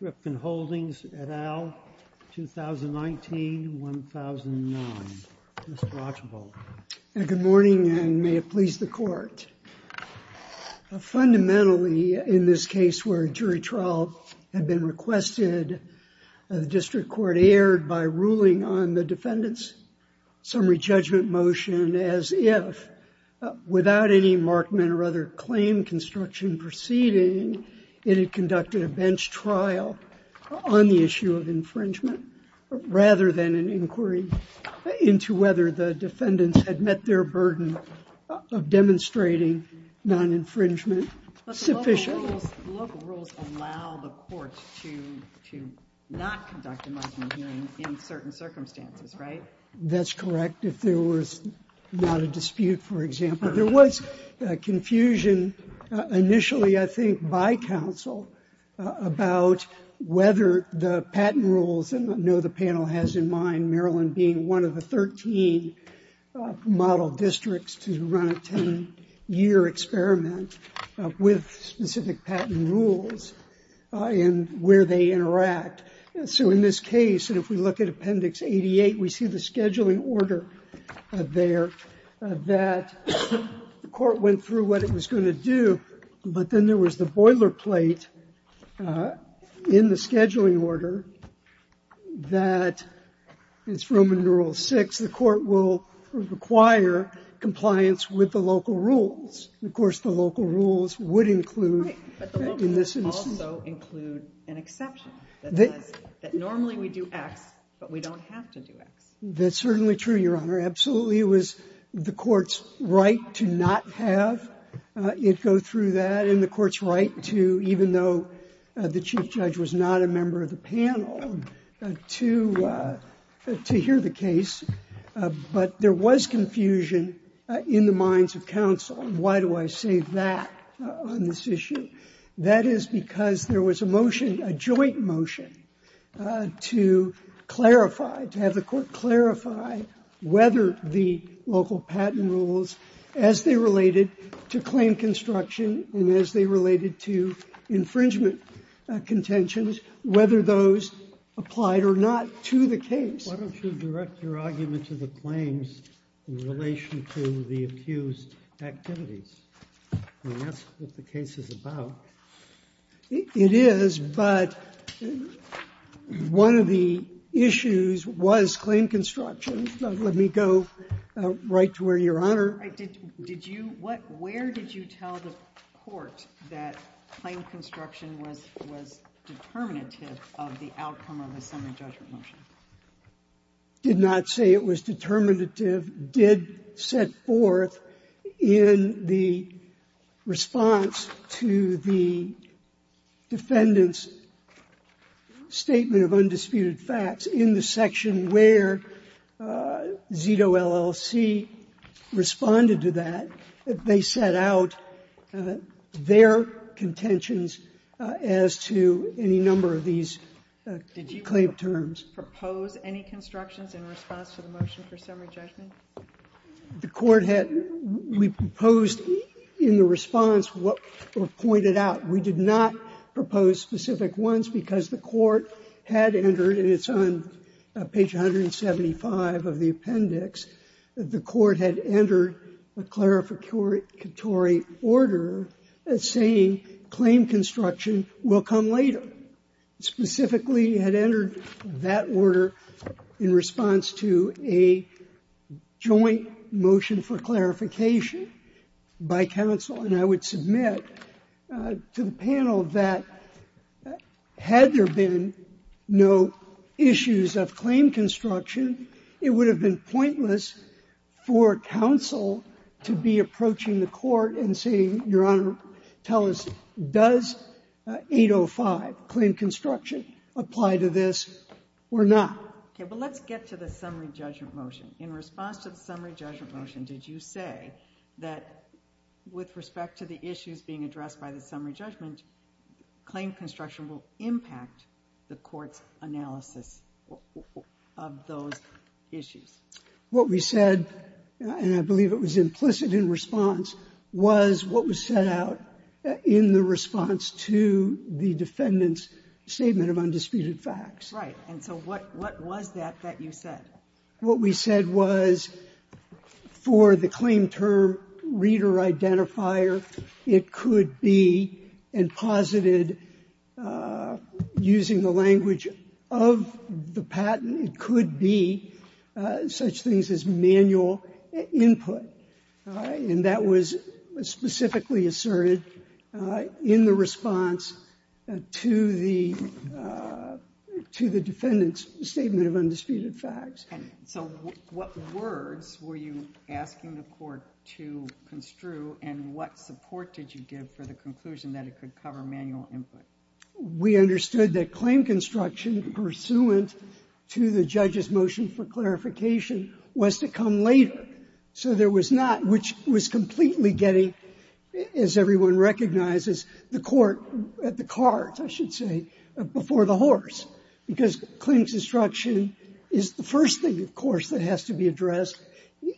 Rifkin Holdings, et al., 2019-2009, Mr. Archibald. Good morning, and may it please the Court. Fundamentally in this case where a jury trial had been requested, the District Court erred by ruling on the Defendant's summary judgment motion as if, without any markmen or other claim construction proceeding, it had conducted a bench trial on the issue of infringement, rather than an inquiry into whether the Defendants had met their burden of demonstrating non-infringement sufficient. The local rules allow the Court to not conduct a markmen hearing in certain circumstances, right? That's correct. If there was not a dispute, for example. There was confusion initially, I think, by counsel about whether the patent rules, and I know the panel has in mind Maryland being one of the 13 model districts to run a 10-year experiment with specific patent rules and where they interact. So in this case, and if we look at Appendix 88, we see the scheduling order there that the Court went through what it was going to do, but then there was the boilerplate in the scheduling order that it's Roman Rule 6, the Court will require compliance with the local rules. Of course, the local rules would include in this instance. Right. But the local rules also include an exception that says that normally we do X, but we don't have to do X. That's certainly true, Your Honor. Absolutely, it was the Court's right to not have it go through that, and the Court's right to, even though the Chief Judge was not a member of the panel, to hear the case. But there was confusion in the minds of counsel. Why do I say that on this issue? That is because there was a motion, a joint motion, to clarify, to have the Court clarify whether the local patent rules, as they related to claim construction and as they related to infringement contentions, whether those applied or not to the case. Why don't you direct your argument to the claims in relation to the accused activities? I mean, that's what the case is about. It is, but one of the issues was claim construction. Let me go right to where you're, Your Honor. Did you, what, where did you tell the Court that claim construction was, was determinative of the outcome of the summary judgment motion? I did not say it was determinative. It did set forth in the response to the defendant's statement of undisputed facts in the section where Zeto, LLC responded to that, they set out their contentions as to any number of these, did you claim terms? Propose any constructions in response to the motion for summary judgment? The Court had, we proposed in the response what were pointed out. We did not propose specific ones because the Court had entered, and it's on page 175 of the appendix, that the Court had entered a clarificatory order saying claim construction will come later. The Court specifically had entered that order in response to a joint motion for clarification by counsel, and I would submit to the panel that had there been no issues of claim construction, it would have been pointless for counsel to be approaching the Court and saying, Your Honor, tell us, does 805, claim construction, apply to this or not? Okay, but let's get to the summary judgment motion. In response to the summary judgment motion, did you say that with respect to the issues being addressed by the summary judgment, claim construction will impact the Court's analysis of those issues? What we said, and I believe it was implicit in response, was what was set out in the response to the defendant's statement of undisputed facts. Right. And so what was that that you said? What we said was for the claim term reader identifier, it could be, and posited using the language of the patent, it could be such things as manual input. And that was specifically asserted in the response to the defendant's statement of undisputed facts. So what words were you asking the Court to construe, and what support did you give for the conclusion that it could cover manual input? We understood that claim construction, pursuant to the judge's motion for clarification, was to come later, so there was not, which was completely getting, as everyone recognizes, the Court at the cart, I should say, before the horse, because claims instruction is the first thing, of course, that has to be addressed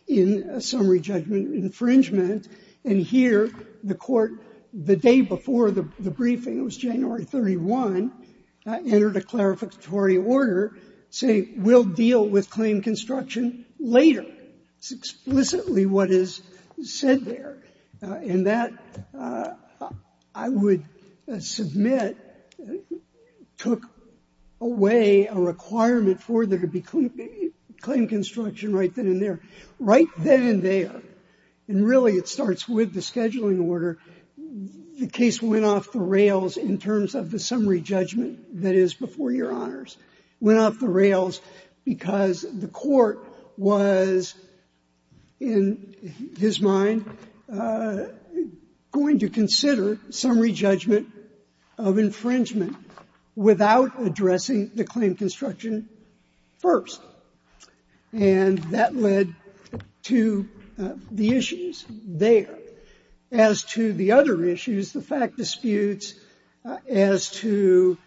in a summary judgment infringement. And here, the Court, the day before the briefing, it was January 31, entered a clarificatory order saying we'll deal with claim construction later. It's explicitly what is said there. And that, I would submit, took away a requirement for there to be claim construction right then and there. Right then and there. And really, it starts with the scheduling order. The case went off the rails in terms of the summary judgment that is before Your Honors. It went off the rails because the Court was, in his mind, going to consider summary judgment of infringement without addressing the claim construction first. And that led to the issues there. As to the other issues, the fact disputes, as to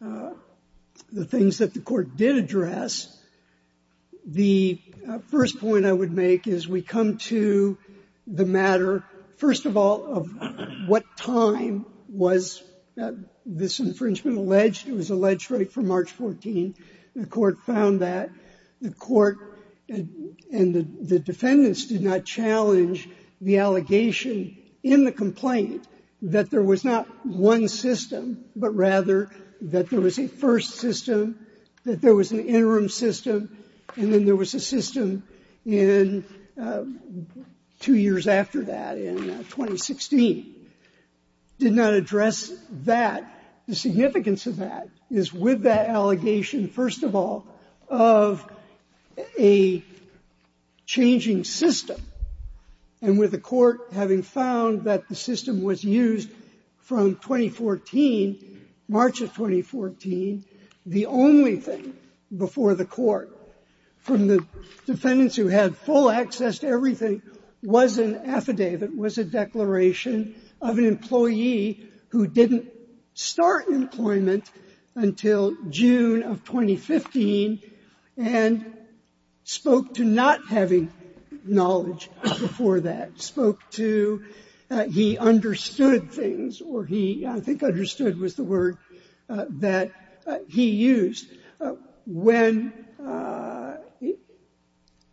the things that the Court did address, the first point I would make is we come to the matter, first of all, of what time was this infringement alleged? It was alleged right from March 14. The Court found that the Court and the defendants did not challenge the allegation in the complaint that there was not one system, but rather that there was a first system, that there was an interim system, and then there was a system in two years after that, in 2016. Did not address that. The significance of that is with that allegation, first of all, of a changing system. And with the Court having found that the system was used from 2014, March of 2014, the only thing before the Court from the defendants who had full access to employment until June of 2015, and spoke to not having knowledge before that. Spoke to he understood things, or he, I think, understood was the word that he used. When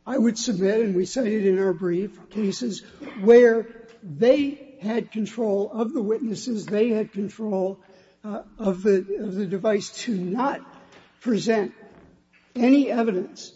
I would submit, and we say it in our brief cases, where they had control of the device to not present any evidence,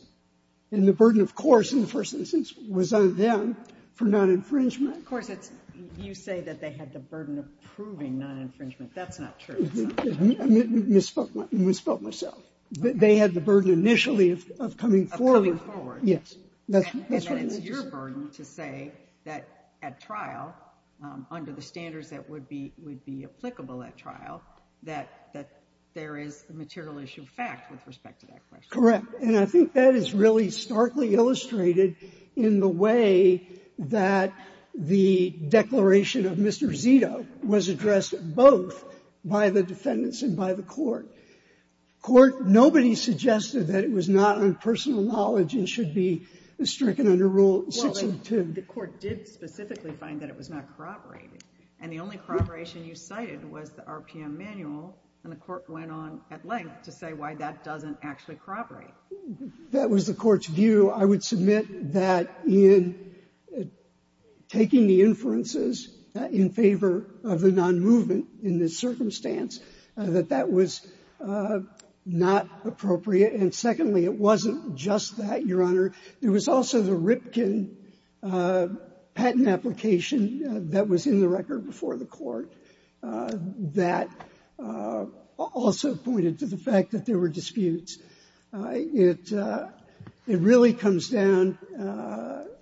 and the burden, of course, in the first instance, was on them for non-infringement. Of course, it's you say that they had the burden of proving non-infringement. That's not true. I misspoke myself. They had the burden initially of coming forward. Yes. And it's your burden to say that at trial, under the standards that would be applicable at trial, that there is the material issue of fact with respect to that question. Correct. And I think that is really starkly illustrated in the way that the declaration of Mr. Zito was addressed both by the defendants and by the Court. The Court, nobody suggested that it was not on personal knowledge and should be stricken under Rule 62. Well, the Court did specifically find that it was not corroborated. And the only corroboration you cited was the RPM manual. And the Court went on at length to say why that doesn't actually corroborate. That was the Court's view. I would submit that in taking the inferences in favor of the non-movement in this circumstance, that that was not appropriate. And secondly, it wasn't just that, Your Honor. There was also the Ripken patent application that was in the record before the Court that also pointed to the fact that there were disputes. It really comes down,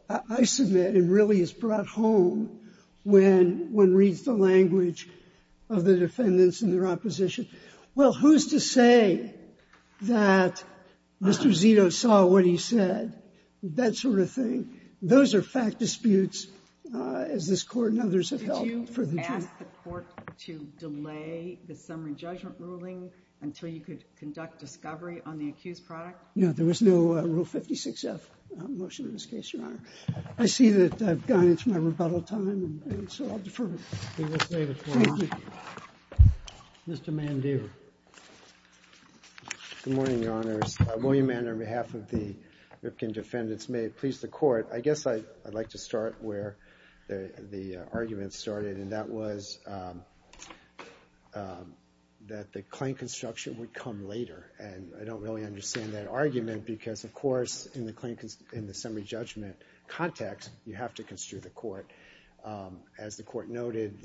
I submit, and really is brought home when one reads the language of the defendants and their opposition. Well, who's to say that Mr. Zito saw what he said, that sort of thing? Those are fact disputes, as this Court and others have held for the truth. Did you ask the Court to delay the summary judgment ruling until you could conduct discovery on the accused product? No. There was no Rule 56F motion in this case, Your Honor. I see that I've gone into my rebuttal time, and so I'll defer. We will save it for later. Mr. Mandeaver. Good morning, Your Honors. William Mandeaver on behalf of the Ripken defendants. May it please the Court. I guess I'd like to start where the argument started, and that was that the claim construction would come later. And I don't really understand that argument because, of course, in the summary judgment context, you have to construe the Court. As the Court noted,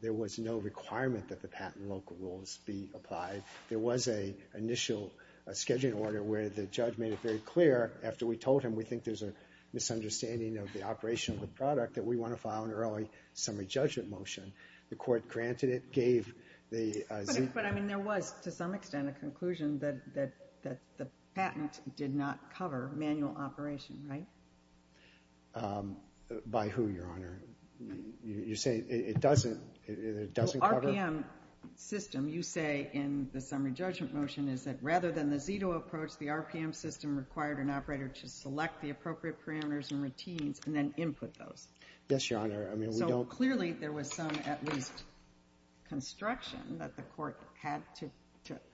there was no requirement that the patent local rules be applied. There was an initial scheduling order where the judge made it very clear after we told him we think there's a misunderstanding of the operation of the product that we want to file an early summary judgment motion. The Court granted it, gave the Zito... But, I mean, there was, to some extent, a conclusion that the patent did not cover manual operation, right? By who, Your Honor? You're saying it doesn't cover... RPM system, you say in the summary judgment motion, is that rather than the Zito approach, the RPM system required an operator to select the appropriate parameters and routines and then input those. Yes, Your Honor. I mean, we don't... So, clearly, there was some, at least, construction that the Court had to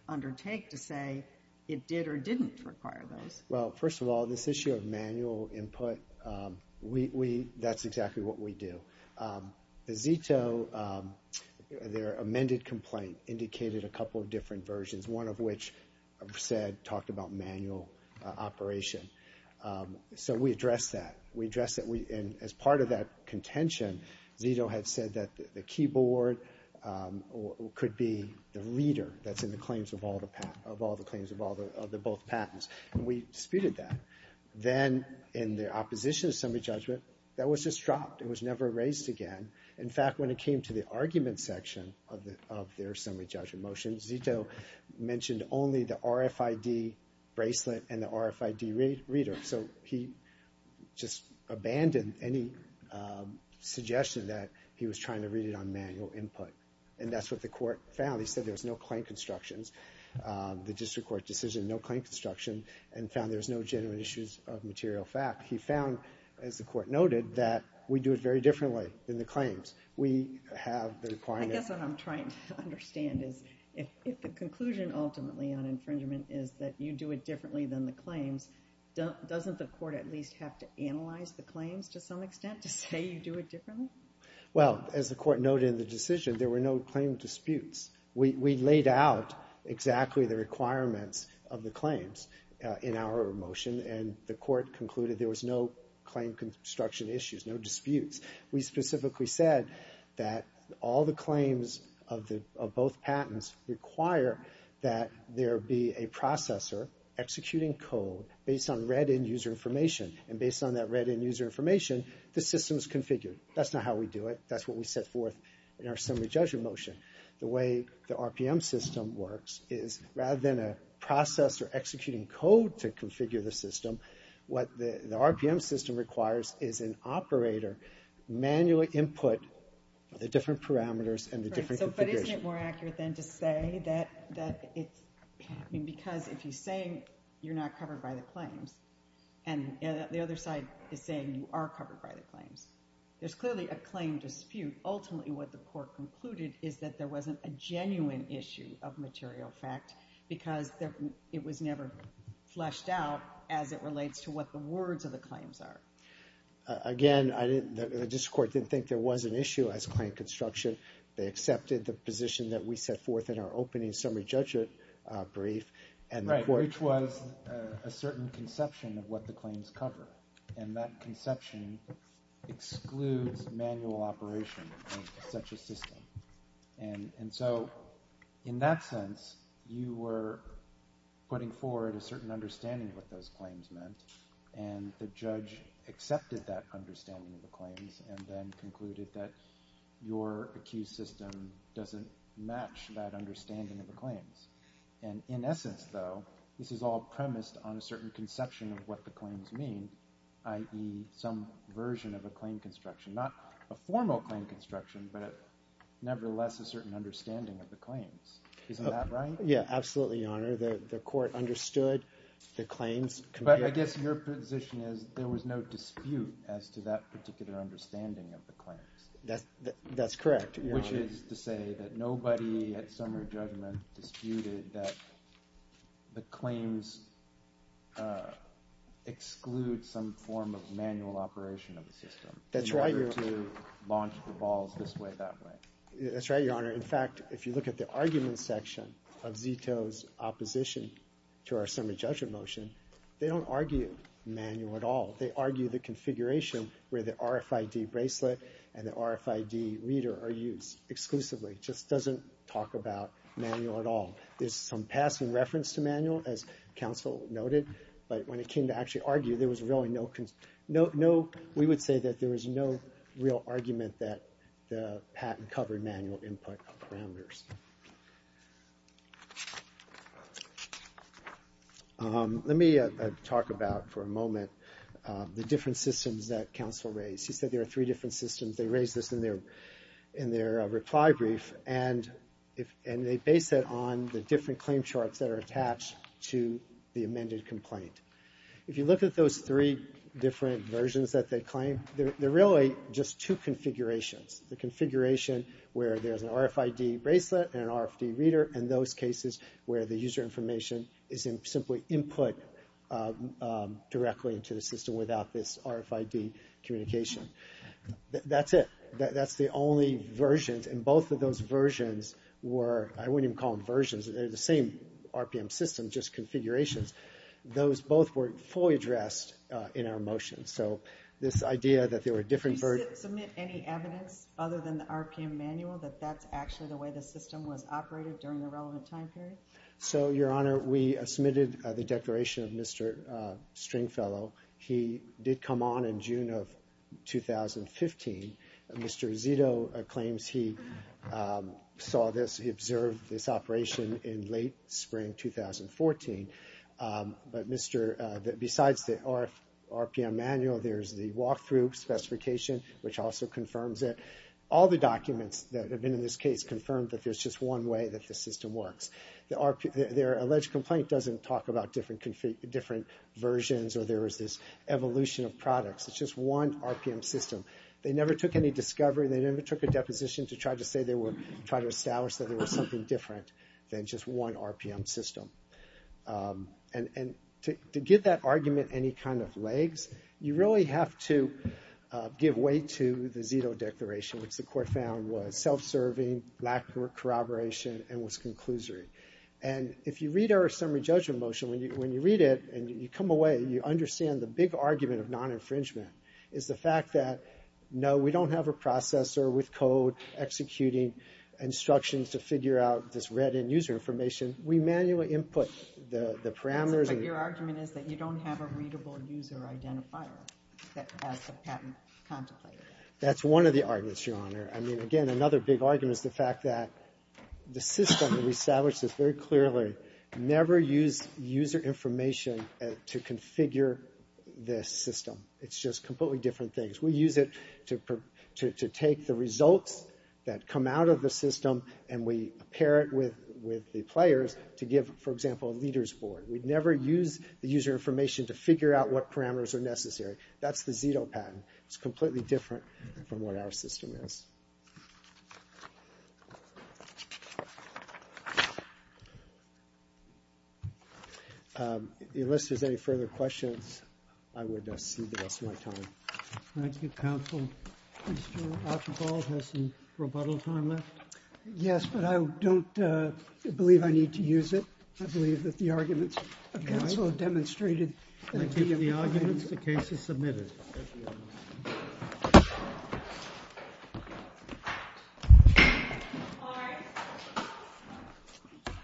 undertake to say it did or didn't require those. Well, first of all, this issue of manual input, we, that's exactly what we do. The Zito, their amended complaint indicated a couple of different versions, one of which said, talked about manual operation. So, we addressed that. We addressed that, and as part of that contention, Zito had said that the keyboard could be the reader that's in the claims of all the claims of the both patents. We disputed that. Then, in the opposition to summary judgment, that was just dropped. It was never raised again. In fact, when it came to the argument section of their summary judgment motion, Zito mentioned only the RFID bracelet and the RFID reader. So, he just abandoned any suggestion that he was trying to read it on manual input. And that's what the Court found. He said there was no claim constructions. The District Court decision, no claim construction, and found there's no genuine issues of material fact. He found, as the Court noted, that we do it very differently than the claims. We have the requirement. I guess what I'm trying to understand is, if the conclusion ultimately on infringement is that you do it differently than the claims, doesn't the Court at least have to analyze the claims to some extent to say you do it differently? Well, as the Court noted in the decision, there were no claim disputes. We laid out exactly the requirements of the claims in our motion, and the Court concluded there was no claim construction issues, no disputes. We specifically said that all the claims of both patents require that there be a processor executing code based on read-in user information. And based on that read-in user information, the system's configured. That's not how we do it. That's what we set forth in our summary judgment motion. The way the RPM system works is, rather than a processor executing code to configure the system, what the RPM system requires is an operator, manually input the different parameters and the different configurations. But isn't it more accurate then to say that it's... I mean, because if you're saying you're not covered by the claims, and the other side is saying you are covered by the claims, there's clearly a claim dispute. Ultimately, what the Court concluded is that there wasn't a genuine issue of material fact, because it was never fleshed out as it relates to what the words of the claims are. Again, the District Court didn't think there was an issue as claim construction. They accepted the position that we set forth in our opening summary judgment brief. Right, which was a certain conception of what the claims cover. And that conception excludes manual operation in such a system. And so, in that sense, you were putting forward a certain understanding of what those claims meant, and the judge accepted that understanding of the claims, and then concluded that your accused system doesn't match that understanding of the claims. And in essence, though, this is all premised on a certain conception of what the claims mean, i.e. some version of a claim construction. Not a formal claim construction, but nevertheless a certain understanding of the claims. Isn't that right? Yeah, absolutely, Your Honor. The Court understood the claims. But I guess your position is there was no dispute as to that particular understanding of the claims. That's correct, Your Honor. Which is to say that nobody at summary judgment disputed that the claims exclude some form of manual operation of the system. That's right, Your Honor. In order to launch the balls this way, that way. That's right, Your Honor. In fact, if you look at the argument section of Zito's opposition to our summary judgment motion, they don't argue manual at all. They argue the configuration where the RFID bracelet and the RFID reader are used exclusively. It just doesn't talk about manual at all. There's some passing reference to manual, as counsel noted. But when it came to actually argue, there was really no... We would say that there was no real argument that the patent covered manual input parameters. Let me talk about, for a moment, the different systems that counsel raised. He said there are three different systems. They raised this in their reply brief. And they base it on the different claim charts that are attached to the amended complaint. If you look at those three different versions that they claim, they're really just two configurations. The configuration where there's an RFID bracelet and an RFID reader, and those cases where the user information is simply input directly into the system without this RFID communication. That's it. That's the only versions. And both of those versions were... I wouldn't even call them versions. They're the same RPM system, just configurations. Those both weren't fully addressed in our motion. So this idea that there were different... Does it submit any evidence other than the RPM manual that that's actually the way the system was operated during the relevant time period? So, Your Honor, we submitted the declaration of Mr. Stringfellow. He did come on in June of 2015. Mr. Zito claims he saw this, he observed this operation in late spring 2014. But besides the RPM manual, there's the walkthrough specification, which also confirms it. All the documents that have been in this case confirm that there's just one way that the system works. Their alleged complaint doesn't talk about different versions or there was this evolution of products. It's just one RPM system. They never took any discovery. They never took a deposition to try to say they were... try to establish that there was something different than just one RPM system. And to give that argument any kind of legs, you really have to give way to the Zito declaration, which the court found was self-serving, lack of corroboration, and was conclusory. And if you read our summary judgment motion, when you read it and you come away, you understand the big argument of non-infringement is the fact that, no, we don't have a processor with code executing instructions to figure out this read-in user information. We manually input the parameters. But your argument is that you don't have a readable user identifier that has the patent contemplated. That's one of the arguments, Your Honor. I mean, again, another big argument is the fact that the system, we established this very clearly, never used user information to configure this system. It's just completely different things. We use it to take the results that come out of the system and we pair it with the players to give, for example, a leader's board. We'd never use the user information to figure out what parameters are necessary. That's the Zito patent. It's completely different from what our system is. Unless there's any further questions, I would cede the rest of my time. Thank you, counsel. Mr. Archibald, has some rebuttal time left? Yes, but I don't believe I need to use it. I believe that the arguments of counsel demonstrated... Thank you for the arguments. The case is submitted.